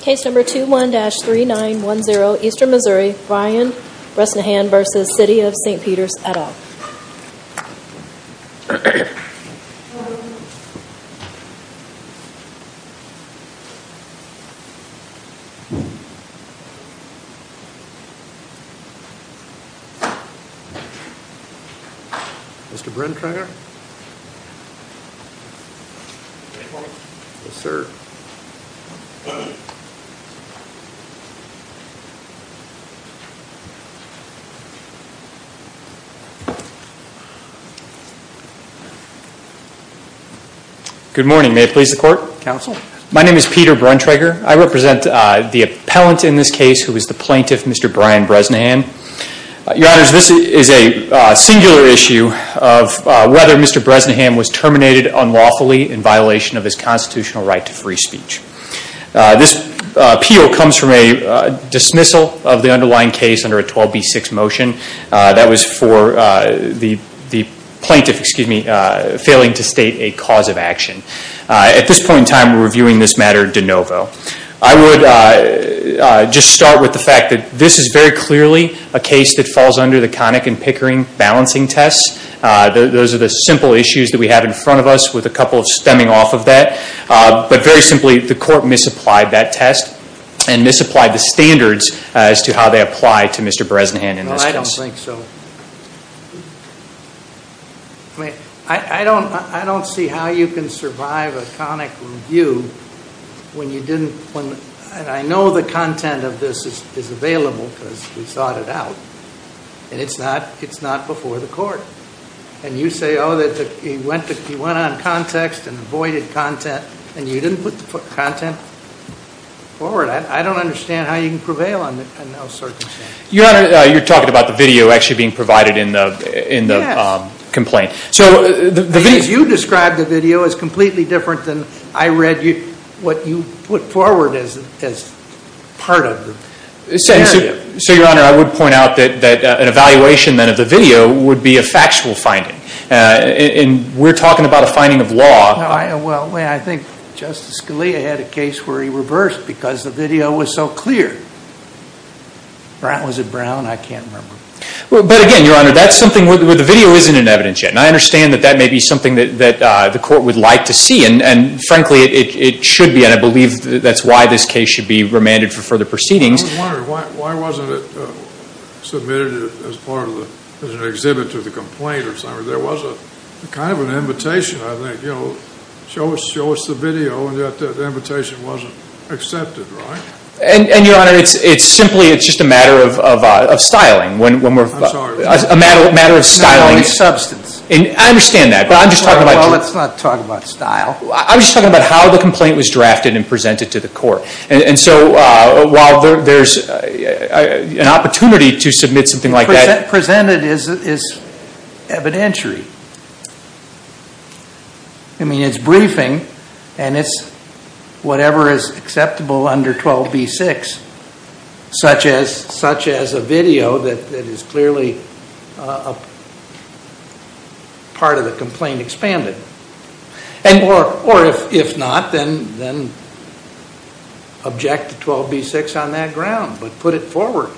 Case number 21-3910, Eastern Missouri, Ryan Bresnahan v. City of St. Peters, et al. Mr. Brenkringer? Good morning, may it please the Court? Counsel? My name is Peter Brenkringer. I represent the appellant in this case who is the plaintiff, Mr. Brian Bresnahan. Your Honors, this is a singular issue of whether Mr. Bresnahan was terminated unlawfully in violation of his constitutional right to free speech. This appeal comes from a dismissal of the underlying case under a 12B6 motion. That was for the plaintiff failing to state a cause of action. At this point in time, we're reviewing this matter de novo. I would just start with the fact that this is very clearly a case that falls under the Connick and Pickering balancing tests. Those are the simple issues that we have in front of us with a couple stemming off of that. But very simply, the Court misapplied that test and misapplied the standards as to how they apply to Mr. Bresnahan in this case. I don't think so. I mean, I don't see how you can survive a Connick review when you didn't – and I know the content of this is available because we sought it out, and it's not before the Court. And you say, oh, he went on context and avoided content, and you didn't put the content forward. I don't understand how you can prevail on those circumstances. Your Honor, you're talking about the video actually being provided in the complaint. The way you described the video is completely different than I read what you put forward as part of the scenario. So, Your Honor, I would point out that an evaluation then of the video would be a factual finding, and we're talking about a finding of law. Well, I think Justice Scalia had a case where he reversed because the video was so clear. Was it Brown? I can't remember. But again, Your Honor, that's something where the video isn't in evidence yet, and I understand that that may be something that the Court would like to see, and frankly, it should be, and I believe that's why this case should be remanded for further proceedings. I was wondering, why wasn't it submitted as part of the – as an exhibit to the complaint or something? There was a kind of an invitation, I think, you know, show us the video, and yet the invitation wasn't accepted, right? And, Your Honor, it's simply – it's just a matter of styling. I'm sorry. A matter of styling. No, no, it's substance. I understand that, but I'm just talking about – Well, let's not talk about style. I'm just talking about how the complaint was drafted and presented to the Court, and so while there's an opportunity to submit something like that – Presented is evidentiary. I mean, it's briefing, and it's whatever is acceptable under 12b-6, such as a video that is clearly part of the complaint expanded. Or if not, then object to 12b-6 on that ground, but put it forward.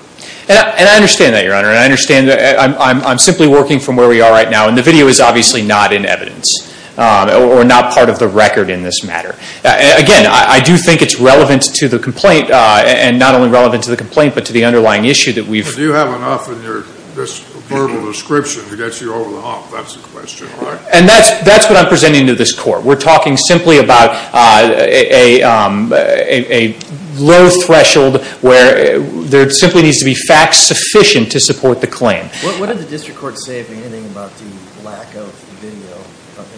And I understand that, Your Honor, and I understand that. I'm simply working from where we are right now. And the video is obviously not in evidence or not part of the record in this matter. Again, I do think it's relevant to the complaint, and not only relevant to the complaint but to the underlying issue that we've – But do you have enough in this verbal description to get you over the hump? That's the question, all right? And that's what I'm presenting to this Court. We're talking simply about a low threshold where there simply needs to be facts sufficient to support the claim. What did the District Court say, if anything, about the lack of video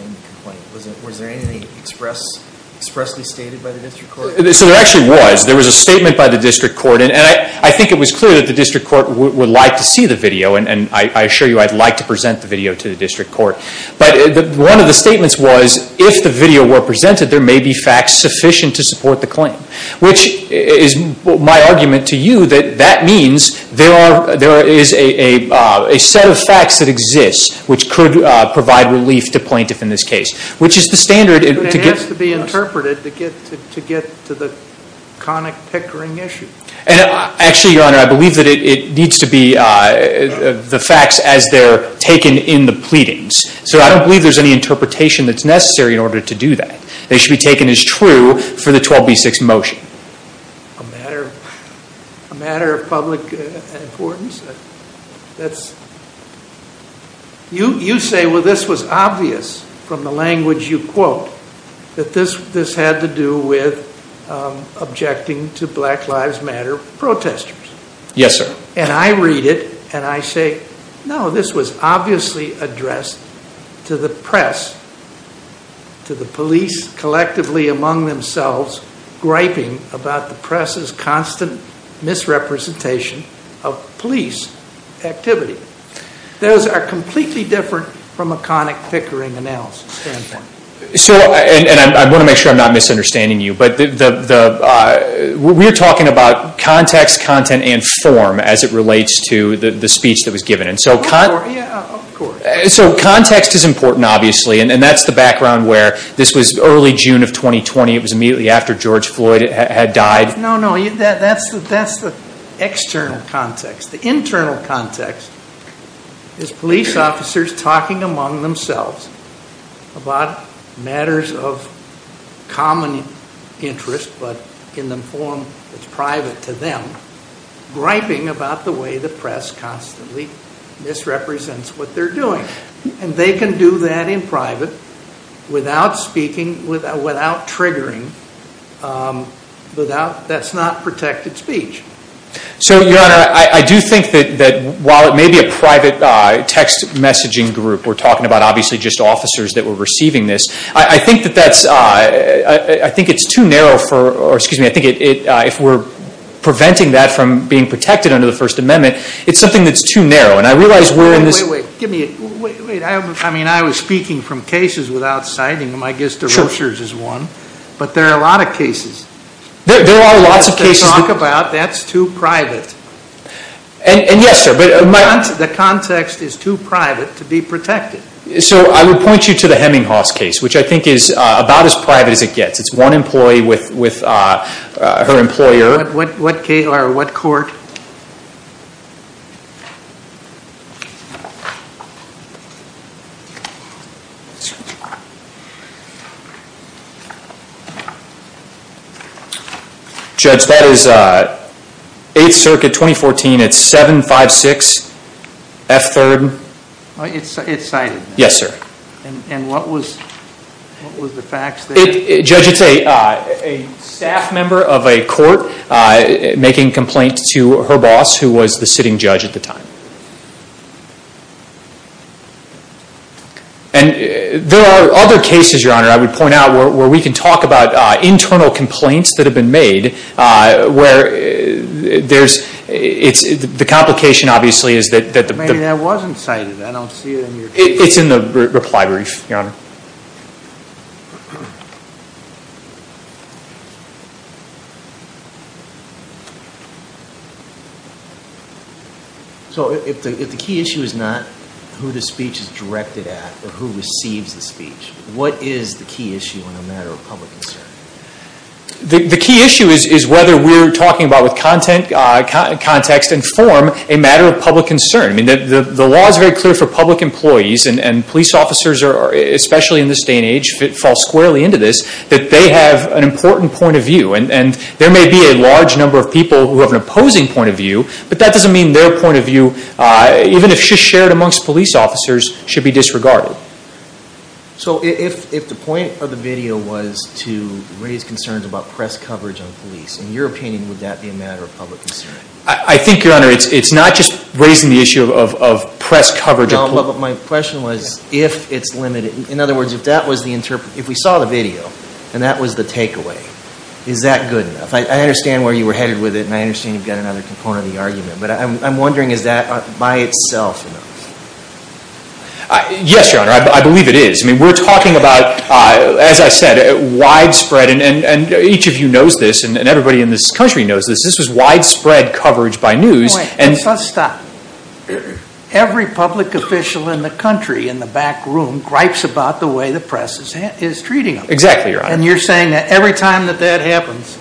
in the complaint? Was there anything expressly stated by the District Court? So there actually was. There was a statement by the District Court, and I think it was clear that the District Court would like to see the video, and I assure you I'd like to present the video to the District Court. But one of the statements was, if the video were presented, there may be facts sufficient to support the claim, which is my argument to you that that means there is a set of facts that exist which could provide relief to plaintiff in this case, which is the standard to get – But it has to be interpreted to get to the conic, pickering issue. Actually, Your Honor, I believe that it needs to be the facts as they're taken in the pleadings. So I don't believe there's any interpretation that's necessary in order to do that. They should be taken as true for the 12B6 motion. A matter of public importance? You say, well, this was obvious from the language you quote that this had to do with objecting to Black Lives Matter protesters. Yes, sir. And I read it and I say, no, this was obviously addressed to the press, to the police collectively among themselves griping about the press's constant misrepresentation of police activity. Those are completely different from a conic, pickering analysis standpoint. And I want to make sure I'm not misunderstanding you, but we're talking about context, content, and form as it relates to the speech that was given. Yeah, of course. So context is important, obviously, and that's the background where this was early June of 2020. It was immediately after George Floyd had died. No, no, that's the external context. The internal context is police officers talking among themselves about matters of common interest, but in the form that's private to them, griping about the way the press constantly misrepresents what they're doing. And they can do that in private without speaking, without triggering. That's not protected speech. So, Your Honor, I do think that while it may be a private text messaging group, we're talking about obviously just officers that were receiving this, I think it's too narrow for, or excuse me, I think if we're preventing that from being protected under the First Amendment, it's something that's too narrow. And I realize we're in this. Wait, wait, wait. I mean, I was speaking from cases without citing them. I guess the brochures is one. But there are a lot of cases. There are lots of cases. They talk about that's too private. And yes, sir. The context is too private to be protected. So I would point you to the Heminghaus case, which I think is about as private as it gets. It's one employee with her employer. What case or what court? Judge, that is 8th Circuit, 2014. It's 756 F3rd. It's cited. Yes, sir. And what was the facts? Judge, it's a staff member of a court making complaints to her boss, who was the sitting judge at the time. And there are other cases, Your Honor, I would point out where we can talk about internal complaints that have been made where there's, the complication obviously is that the I mean, that wasn't cited. I don't see it in your case. It's in the reply brief, Your Honor. So if the key issue is not who the speech is directed at, but who receives the speech, what is the key issue in a matter of public concern? The key issue is whether we're talking about with context and form a matter of public concern. I mean, the law is very clear for public employees, and police officers are, especially in this day and age, fall squarely into this, that they have an important point of view. And there may be a large number of people who have an opposing point of view, but that doesn't mean their point of view, even if shared amongst police officers, should be disregarded. So if the point of the video was to raise concerns about press coverage on police, in your opinion, would that be a matter of public concern? I think, Your Honor, it's not just raising the issue of press coverage. No, but my question was if it's limited. In other words, if we saw the video, and that was the takeaway, is that good enough? I understand where you were headed with it, and I understand you've got another component of the argument. But I'm wondering, is that by itself enough? Yes, Your Honor. I believe it is. I mean, we're talking about, as I said, widespread. And each of you knows this, and everybody in this country knows this. This was widespread coverage by news. Wait, let's stop. Every public official in the country, in the back room, gripes about the way the press is treating them. Exactly, Your Honor. And you're saying that every time that that happens,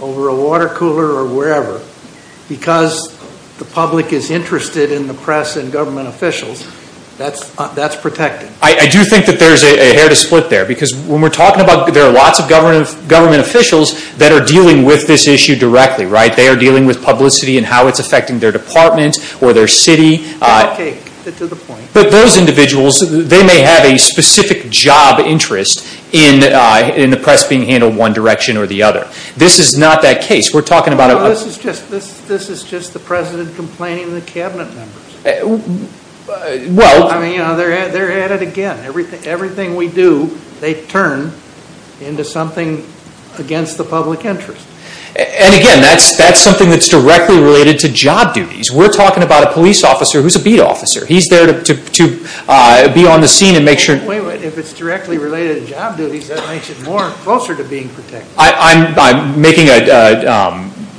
over a water cooler or wherever, because the public is interested in the press and government officials, that's protected. I do think that there's a hair to split there. Because when we're talking about there are lots of government officials that are dealing with this issue directly, right? They are dealing with publicity and how it's affecting their department or their city. Okay, to the point. But those individuals, they may have a specific job interest in the press being handled one direction or the other. This is not that case. We're talking about a- No, this is just the President complaining to the Cabinet members. I mean, they're at it again. Everything we do, they turn into something against the public interest. And again, that's something that's directly related to job duties. We're talking about a police officer who's a beat officer. He's there to be on the scene and make sure- Wait, wait. If it's directly related to job duties, that makes it more closer to being protected.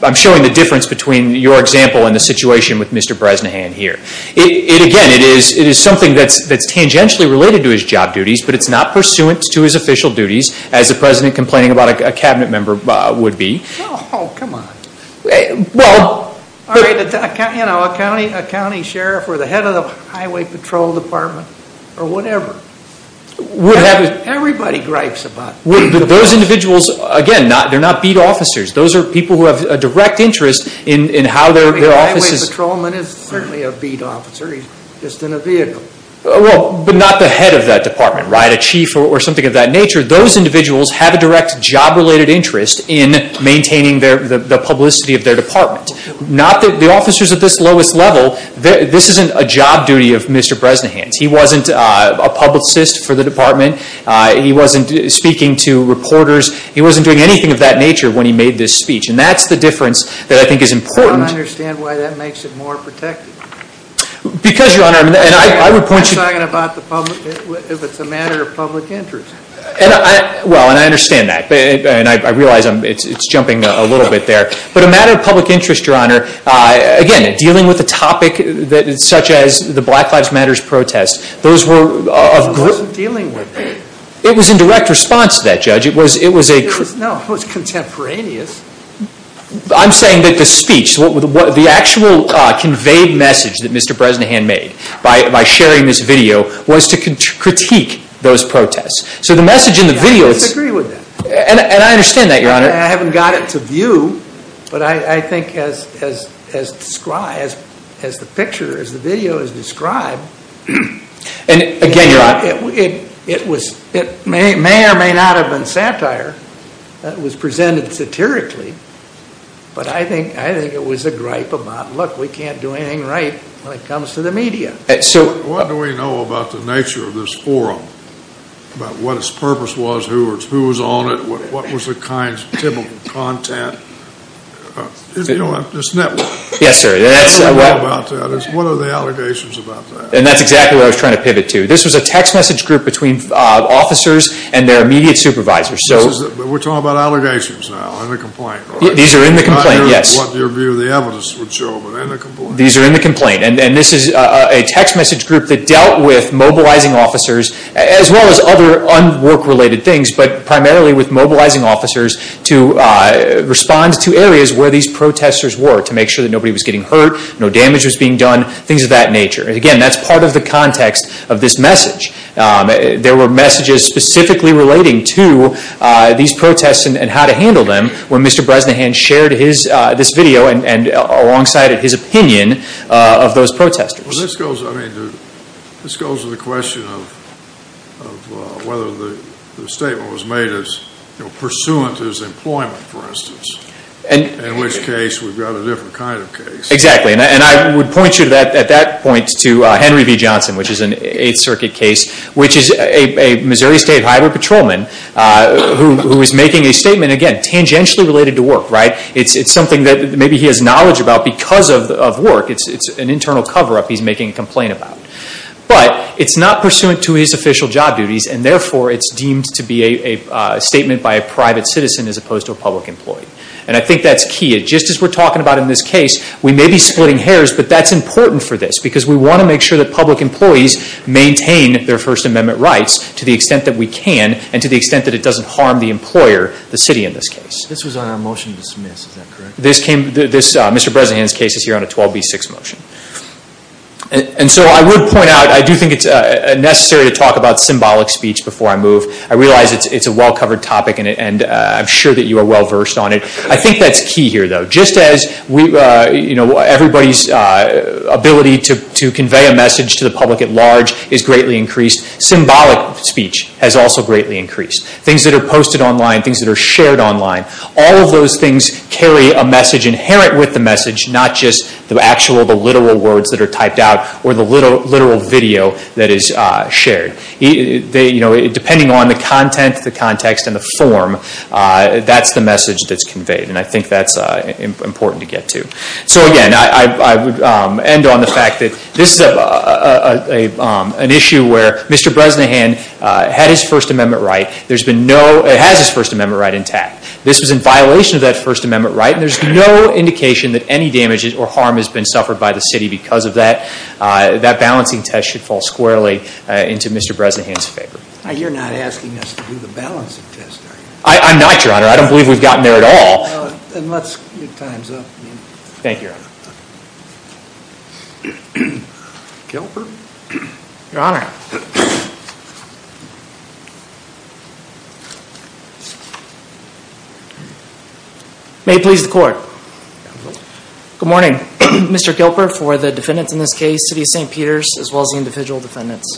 I'm showing the difference between your example and the situation with Mr. Bresnahan here. Again, it is something that's tangentially related to his job duties, but it's not pursuant to his official duties as the President complaining about a Cabinet member would be. Oh, come on. Well- All right, a county sheriff or the head of the highway patrol department or whatever. Everybody gripes about- Those individuals, again, they're not beat officers. Those are people who have a direct interest in how their offices- Well, but not the head of that department, right? A chief or something of that nature. Those individuals have a direct job-related interest in maintaining the publicity of their department. The officers at this lowest level, this isn't a job duty of Mr. Bresnahan's. He wasn't a publicist for the department. He wasn't speaking to reporters. He wasn't doing anything of that nature when he made this speech. And that's the difference that I think is important- Why that makes it more protective. Because, Your Honor, and I would point you- I'm talking about if it's a matter of public interest. Well, and I understand that, and I realize it's jumping a little bit there. But a matter of public interest, Your Honor, again, dealing with a topic such as the Black Lives Matter protest, those were- He wasn't dealing with it. It was in direct response to that, Judge. It was a- No, it was contemporaneous. I'm saying that the speech, the actual conveyed message that Mr. Bresnahan made by sharing this video was to critique those protests. So the message in the video- I disagree with that. And I understand that, Your Honor. I haven't got it to view, but I think as described, as the picture, as the video is described- And again, Your Honor- It may or may not have been satire. It was presented satirically. But I think it was a gripe about, look, we can't do anything right when it comes to the media. What do we know about the nature of this forum? About what its purpose was? Who was on it? What was the kind of typical content? This network. Yes, sir. What do we know about that? What are the allegations about that? And that's exactly what I was trying to pivot to. This was a text message group between officers and their immediate supervisors. We're talking about allegations now, not a complaint. These are in the complaint, yes. Not what your view of the evidence would show, but in the complaint. These are in the complaint. And this is a text message group that dealt with mobilizing officers, as well as other work-related things, but primarily with mobilizing officers to respond to areas where these protesters were, to make sure that nobody was getting hurt, no damage was being done, things of that nature. Again, that's part of the context of this message. There were messages specifically relating to these protests and how to handle them, where Mr. Bresnahan shared this video alongside his opinion of those protesters. This goes to the question of whether the statement was made pursuant to his employment, for instance, in which case we've got a different kind of case. Exactly. And I would point you at that point to Henry V. Johnson, which is an Eighth Circuit case, which is a Missouri State Highway Patrolman who is making a statement, again, tangentially related to work. It's something that maybe he has knowledge about because of work. It's an internal cover-up he's making a complaint about. But it's not pursuant to his official job duties, and therefore it's deemed to be a statement by a private citizen as opposed to a public employee. And I think that's key. Just as we're talking about in this case, we may be splitting hairs, but that's important for this because we want to make sure that public employees maintain their First Amendment rights to the extent that we can and to the extent that it doesn't harm the employer, the city, in this case. This was on a motion to dismiss, is that correct? Mr. Bresnahan's case is here on a 12B6 motion. And so I would point out, I do think it's necessary to talk about symbolic speech before I move. I realize it's a well-covered topic, and I'm sure that you are well-versed on it. I think that's key here, though. Just as everybody's ability to convey a message to the public at large is greatly increased, symbolic speech has also greatly increased. Things that are posted online, things that are shared online, all of those things carry a message inherent with the message, not just the actual, the literal words that are typed out or the literal video that is shared. Depending on the content, the context, and the form, that's the message that's conveyed, and I think that's important to get to. So again, I would end on the fact that this is an issue where Mr. Bresnahan had his First Amendment right. There's been no, has his First Amendment right intact. This was in violation of that First Amendment right, and there's no indication that any damage or harm has been suffered by the city because of that. That balancing test should fall squarely into Mr. Bresnahan's favor. You're not asking us to do the balancing test, are you? I'm not, Your Honor. I don't believe we've gotten there at all. Then let's, your time's up. Thank you, Your Honor. Kilper. Your Honor. May it please the Court. Good morning. Mr. Kilper for the defendants in this case, City of St. Peter's, as well as the individual defendants.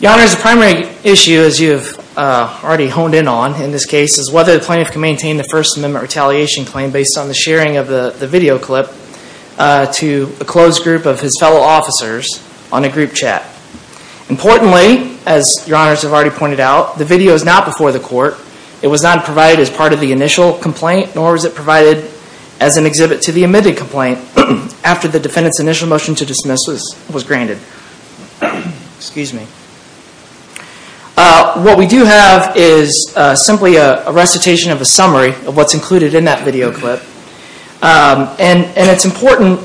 Your Honor, the primary issue, as you have already honed in on in this case, is whether the plaintiff can maintain the First Amendment retaliation claim based on the sharing of the video clip to a closed group of his fellow officers on a group chat. Importantly, as Your Honors have already pointed out, the video is not before the Court. It was not provided as part of the initial complaint, nor was it provided as an exhibit to the admitted complaint after the defendant's initial motion to dismiss was granted. Excuse me. What we do have is simply a recitation of a summary of what's included in that video clip. And it's important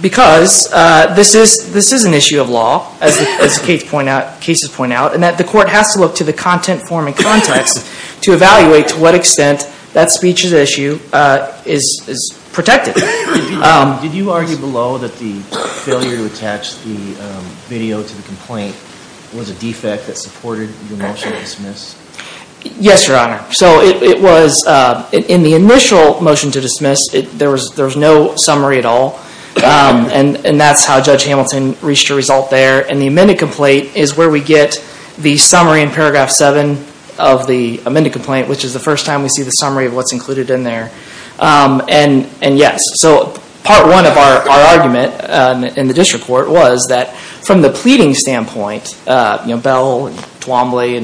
because this is an issue of law, as the cases point out, and that the Court has to look to the content, form, and context to evaluate to what extent that speech is protected. Did you argue below that the failure to attach the video to the complaint was a defect that supported the motion to dismiss? Yes, Your Honor. In the initial motion to dismiss, there was no summary at all, and that's how Judge Hamilton reached a result there. And the admitted complaint is where we get the summary in paragraph 7 of the admitted complaint, which is the first time we see the summary of what's included in there. And yes, part one of our argument in the disreport was that from the pleading standpoint, Bell and Twombly,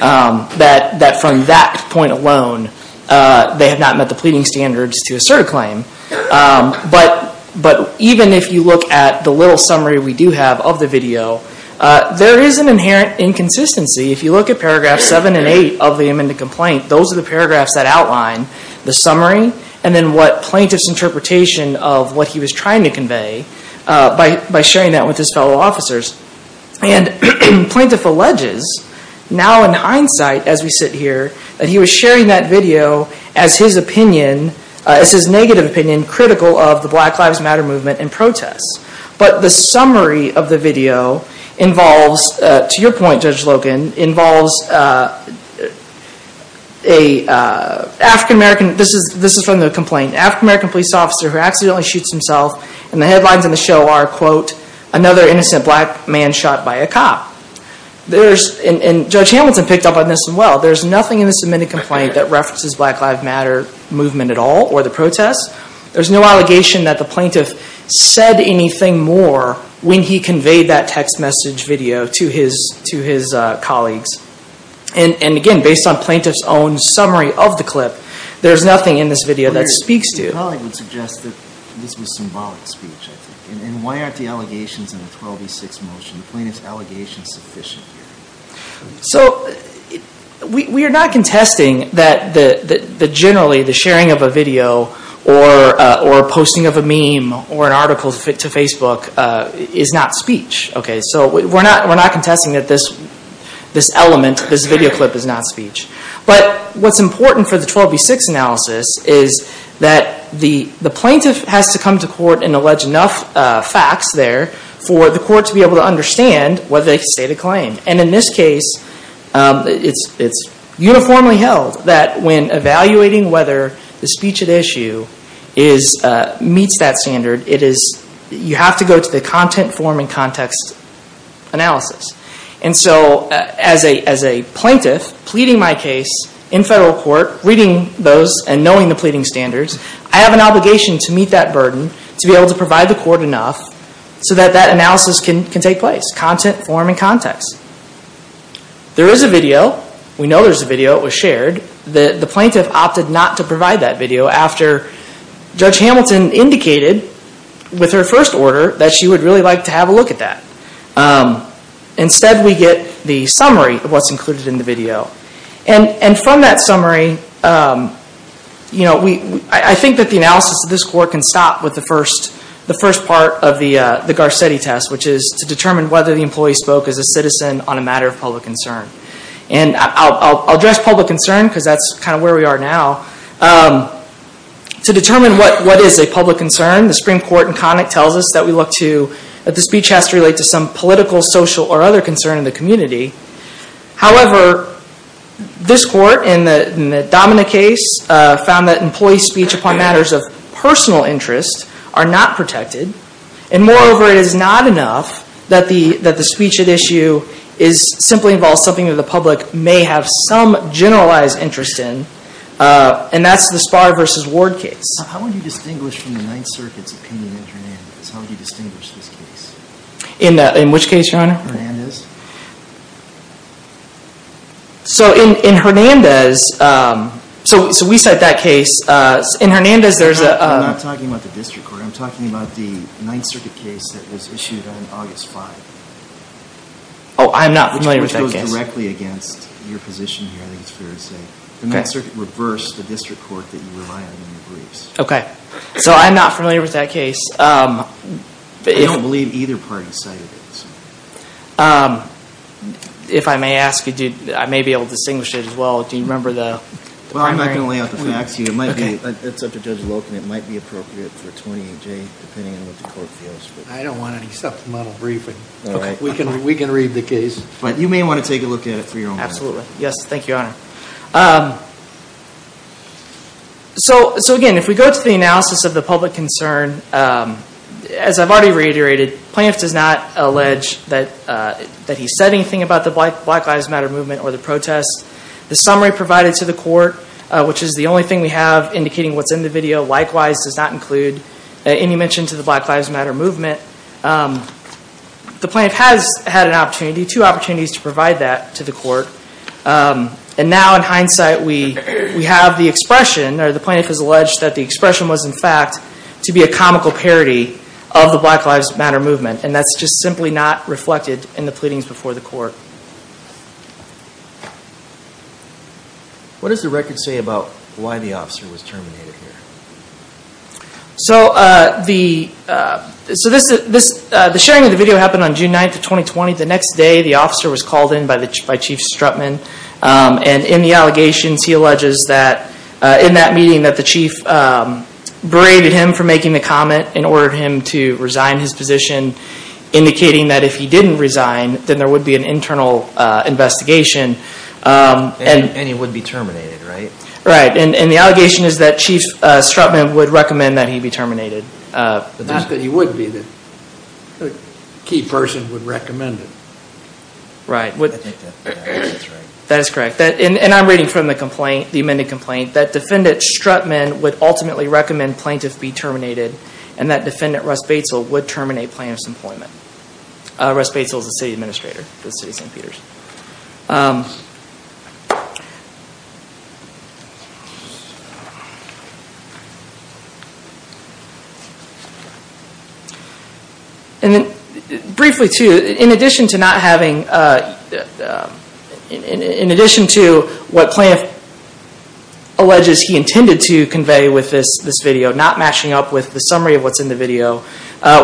that from that point alone, they had not met the pleading standards to assert a claim. But even if you look at the little summary we do have of the video, there is an inherent inconsistency. If you look at paragraph 7 and 8 of the admitted complaint, those are the paragraphs that outline the summary and then what plaintiff's interpretation of what he was trying to convey by sharing that with his fellow officers. And plaintiff alleges, now in hindsight as we sit here, that he was sharing that video as his opinion, as his negative opinion critical of the Black Lives Matter movement and protests. But the summary of the video involves, to your point Judge Logan, involves an African-American, this is from the complaint, African-American police officer who accidentally shoots himself and the headlines on the show are, quote, another innocent black man shot by a cop. And Judge Hamilton picked up on this as well. There's nothing in this admitted complaint that references Black Lives Matter movement at all or the protests. There's no allegation that the plaintiff said anything more when he conveyed that text message video to his colleagues. And again, based on plaintiff's own summary of the clip, there's nothing in this video that speaks to it. The colleague would suggest that this was symbolic speech, I think. And why aren't the allegations in the 12E6 motion, the plaintiff's allegations sufficient here? So we are not contesting that generally the sharing of a video or posting of a meme or an article to Facebook is not speech. So we're not contesting that this element, this video clip is not speech. But what's important for the 12E6 analysis is that the plaintiff has to come to court and allege enough facts there for the court to be able to understand whether they can state a claim. And in this case, it's uniformly held that when evaluating whether the speech at issue meets that standard, you have to go to the content, form, and context analysis. And so as a plaintiff pleading my case in federal court, reading those and knowing the pleading standards, I have an obligation to meet that burden, to be able to provide the court enough so that that analysis can take place, content, form, and context. There is a video. We know there's a video. It was shared. The plaintiff opted not to provide that video after Judge Hamilton indicated with her first order that she would really like to have a look at that. Instead, we get the summary of what's included in the video. And from that summary, I think that the analysis of this court can stop with the first part of the Garcetti test, which is to determine whether the employee spoke as a citizen on a matter of public concern. And I'll address public concern because that's kind of where we are now. To determine what is a public concern, the Supreme Court in Connick tells us that the speech has to relate to some political, social, or other concern in the community. However, this court in the Domina case found that employee speech upon matters of personal interest are not protected. And moreover, it is not enough that the speech at issue simply involves something that the public may have some generalized interest in. And that's the Spahr v. Ward case. How would you distinguish from the Ninth Circuit's opinion in Hernandez? How would you distinguish this case? In which case, Your Honor? Hernandez. Hernandez. So in Hernandez, so we cite that case. In Hernandez, there's a... I'm not talking about the district court. I'm talking about the Ninth Circuit case that was issued on August 5th. Oh, I'm not familiar with that case. Which goes directly against your position here, I think it's fair to say. The Ninth Circuit reversed the district court that you rely on in your briefs. Okay. So I'm not familiar with that case. I don't believe either party cited it. If I may ask you, I may be able to distinguish it as well. Do you remember the primary? Well, I'm not going to lay out the facts here. It's up to Judge Loken. It might be appropriate for Tony and Jay, depending on what the court feels. I don't want any supplemental briefing. Okay. We can read the case. But you may want to take a look at it for your own. Absolutely. Yes, thank you, Your Honor. So, again, if we go to the analysis of the public concern, as I've already reiterated, Plaintiff does not allege that he said anything about the Black Lives Matter movement or the protest. The summary provided to the court, which is the only thing we have indicating what's in the video, likewise does not include any mention to the Black Lives Matter movement. The plaintiff has had an opportunity, two opportunities to provide that to the court. And now, in hindsight, we have the expression, or the plaintiff has alleged that the expression was, in fact, to be a comical parody of the Black Lives Matter movement. And that's just simply not reflected in the pleadings before the court. What does the record say about why the officer was terminated here? The sharing of the video happened on June 9, 2020. The next day, the officer was called in by Chief Strutman. And in the allegations, he alleges that in that meeting, that the chief berated him for making the comment and ordered him to resign his position, indicating that if he didn't resign, then there would be an internal investigation. And he would be terminated, right? Right. And the allegation is that Chief Strutman would recommend that he be terminated. Not that he wouldn't be. The key person would recommend it. Right. I think that's right. That is correct. And I'm reading from the complaint, the amended complaint, that Defendant Strutman would ultimately recommend plaintiff be terminated and that Defendant Russ Batesill would terminate plaintiff's employment. Russ Batesill is the city administrator for the city of St. Peter's. And briefly, too, in addition to not having, in addition to what plaintiff alleges he intended to convey with this video, not matching up with the summary of what's in the video,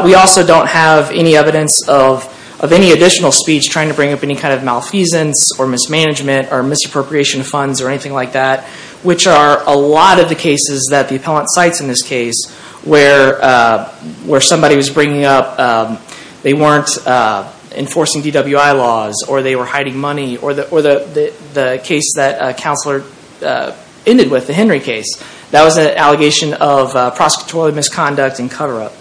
we also don't have any evidence of any additional speech trying to bring up any kind of malfeasance or mismanagement or misappropriation of funds or anything like that, which are a lot of the cases that the appellant cites in this case where somebody was bringing up they weren't enforcing DWI laws or they were hiding money or the case that counselor ended with, the Henry case. That was an allegation of prosecutorial misconduct and cover-up.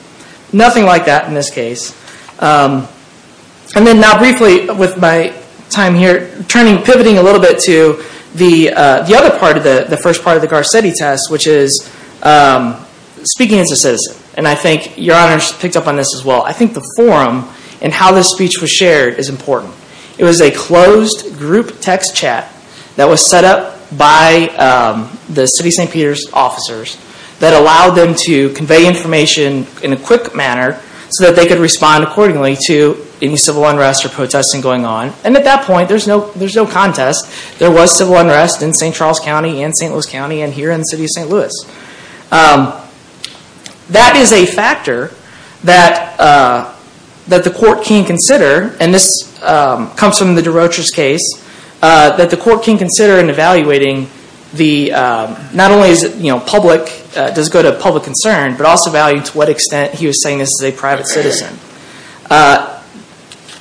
Nothing like that in this case. And then now briefly, with my time here, pivoting a little bit to the other part, the first part of the Garcetti test, which is speaking as a citizen. And I think Your Honor picked up on this as well. I think the forum and how this speech was shared is important. It was a closed group text chat that was set up by the city of St. Peter's officers that allowed them to convey information in a quick manner so that they could respond accordingly to any civil unrest or protesting going on. And at that point, there's no contest. There was civil unrest in St. Charles County and St. Louis County and here in the city of St. Louis. That is a factor that the court can consider, and this comes from the DeRocher's case, that the court can consider in evaluating not only does it go to public concern, but also evaluating to what extent he was saying this is a private citizen.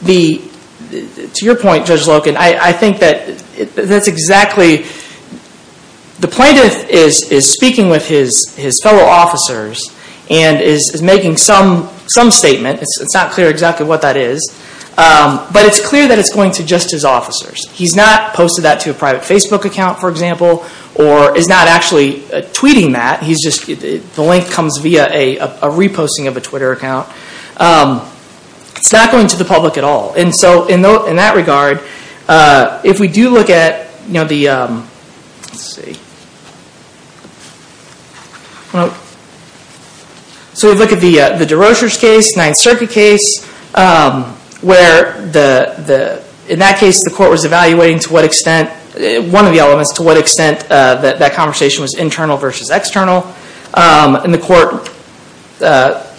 To your point, Judge Loken, I think that that's exactly the plaintiff is speaking with his fellow officers and is making some statement. It's not clear exactly what that is, but it's clear that it's going to just his officers. He's not posted that to a private Facebook account, for example, or is not actually tweeting that. The link comes via a reposting of a Twitter account. It's not going to the public at all. In that regard, if we do look at the DeRocher's case, Ninth Circuit case, where in that case, the court was evaluating one of the elements to what extent that conversation was internal versus external. The court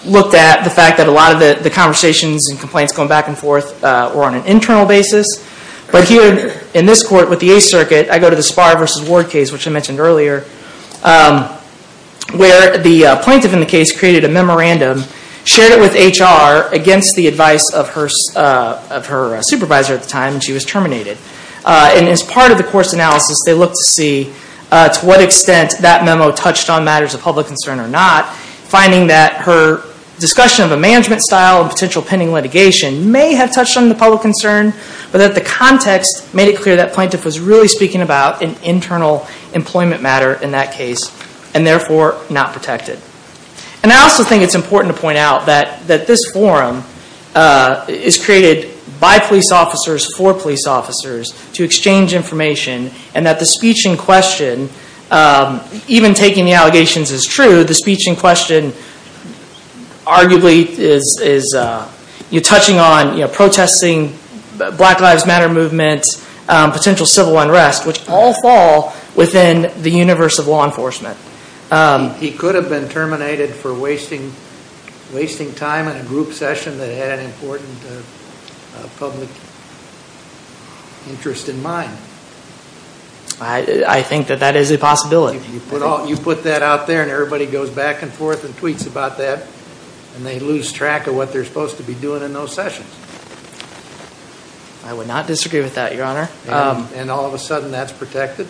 looked at the fact that a lot of the conversations and complaints going back and forth were on an internal basis. Here in this court with the Eighth Circuit, I go to the Sparr versus Ward case, which I mentioned earlier, where the plaintiff in the case created a memorandum, shared it with HR against the advice of her supervisor at the time, and she was terminated. As part of the course analysis, they looked to see to what extent that memo touched on matters of public concern or not, finding that her discussion of a management style and potential pending litigation may have touched on the public concern, but that the context made it clear that plaintiff was really speaking about an internal employment matter in that case, and therefore not protected. I also think it's important to point out that this forum is created by police officers for police officers to exchange information, and that the speech in question, even taking the allegations as true, the speech in question arguably is touching on protesting Black Lives Matter movements, potential civil unrest, which all fall within the universe of law enforcement. He could have been terminated for wasting time in a group session that had an important public interest in mind. I think that that is a possibility. You put that out there, and everybody goes back and forth and tweets about that, and they lose track of what they're supposed to be doing in those sessions. I would not disagree with that, Your Honor. And all of a sudden that's protected?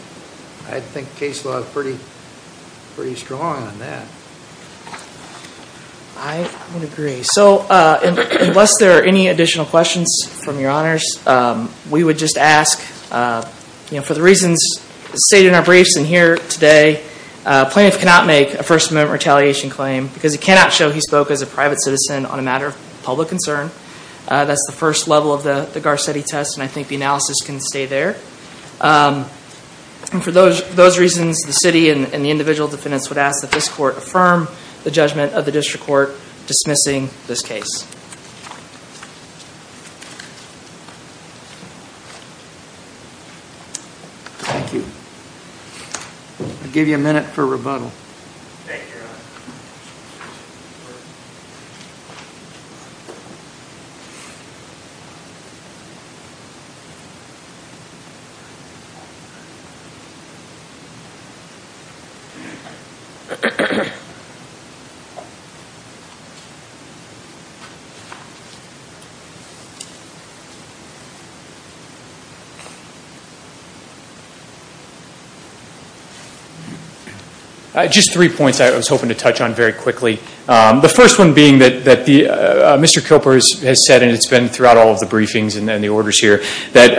I think case law is pretty strong on that. I would agree. Unless there are any additional questions from Your Honors, we would just ask, for the reasons stated in our briefs and here today, Plaintiff cannot make a First Amendment retaliation claim because he cannot show he spoke as a private citizen on a matter of public concern. That's the first level of the Garcetti test, and I think the analysis can stay there. For those reasons, the city and the individual defendants would ask that this court affirm the judgment of the district court dismissing this case. Thank you. I'll give you a minute for rebuttal. Thank you, Your Honor. Thank you, Your Honor. The first one being that Mr. Cooper has said, and it's been throughout all of the briefings and the orders here, that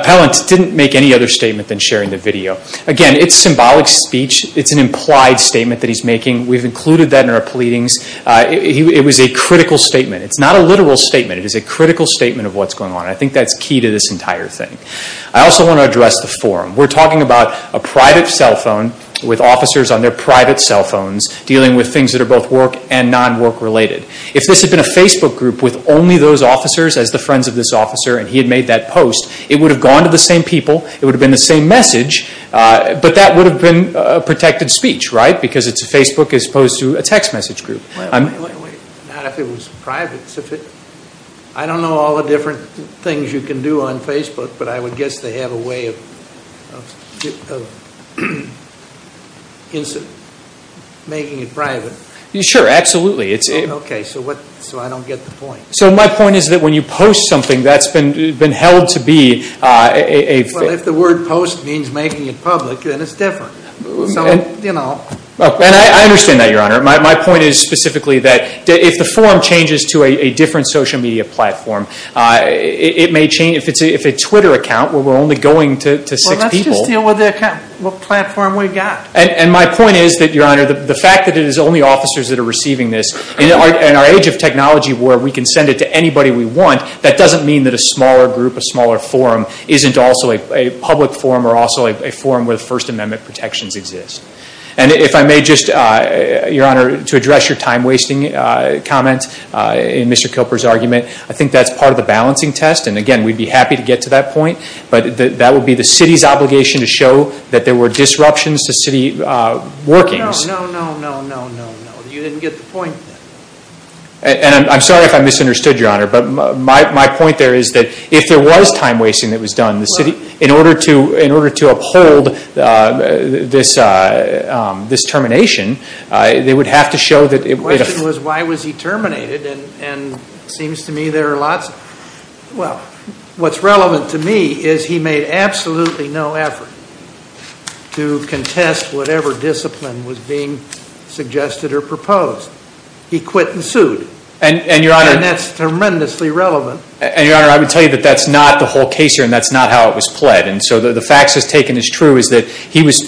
appellants didn't make any other statement than sharing the video. Again, it's symbolic speech. It's an implied statement that he's making. We've included that in our pleadings. It was a critical statement. It's not a literal statement. It is a critical statement of what's going on. I think that's key to this entire thing. I also want to address the forum. We're talking about a private cell phone with officers on their private cell phones dealing with things that are both work and non-work related. If this had been a Facebook group with only those officers as the friends of this officer and he had made that post, it would have gone to the same people. It would have been the same message. But that would have been a protected speech, right, because it's a Facebook as opposed to a text message group. Not if it was private. I don't know all the different things you can do on Facebook, but I would guess they have a way of making it private. Sure, absolutely. Okay, so I don't get the point. My point is that when you post something that's been held to be a Well, if the word post means making it public, then it's different. I understand that, Your Honor. My point is specifically that if the forum changes to a different social media platform, it may change. If it's a Twitter account where we're only going to six people. Well, let's just deal with the platform we've got. And my point is that, Your Honor, the fact that it is only officers that are receiving this, in our age of technology where we can send it to anybody we want, that doesn't mean that a smaller group, a smaller forum, isn't also a public forum or also a forum where the First Amendment protections exist. And if I may just, Your Honor, to address your time-wasting comment in Mr. Cooper's argument, I think that's part of the balancing test. And, again, we'd be happy to get to that point. But that would be the city's obligation to show that there were disruptions to city workings. No, no, no, no, no, no, no. You didn't get the point there. And I'm sorry if I misunderstood, Your Honor. But my point there is that if there was time-wasting that was done, in order to uphold this termination, they would have to show that it was The question was, why was he terminated? And it seems to me there are lots of, well, what's relevant to me is he made absolutely no effort to contest whatever discipline was being suggested or proposed. He quit and sued. And that's tremendously relevant. And, Your Honor, I would tell you that that's not the whole case here, and that's not how it was pled. And so the facts as taken as true is that he was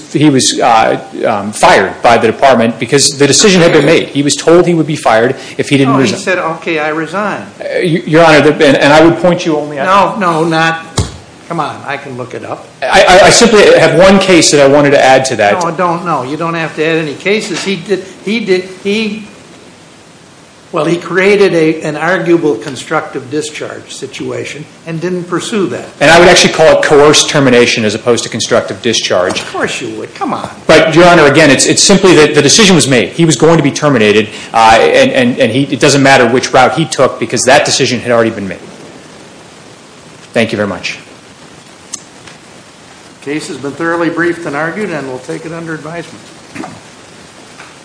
fired by the department because the decision had been made. He was told he would be fired if he didn't resign. No, he said, okay, I resign. Your Honor, and I would point you only at that. No, no, not, come on, I can look it up. I simply have one case that I wanted to add to that. No, don't, no, you don't have to add any cases. He did, he did, he, well, he created an arguable constructive discharge situation and didn't pursue that. And I would actually call it coerced termination as opposed to constructive discharge. Of course you would, come on. But, Your Honor, again, it's simply that the decision was made. He was going to be terminated, and it doesn't matter which route he took because that decision had already been made. Thank you very much. The case has been thoroughly briefed and argued, and we'll take it under advisement.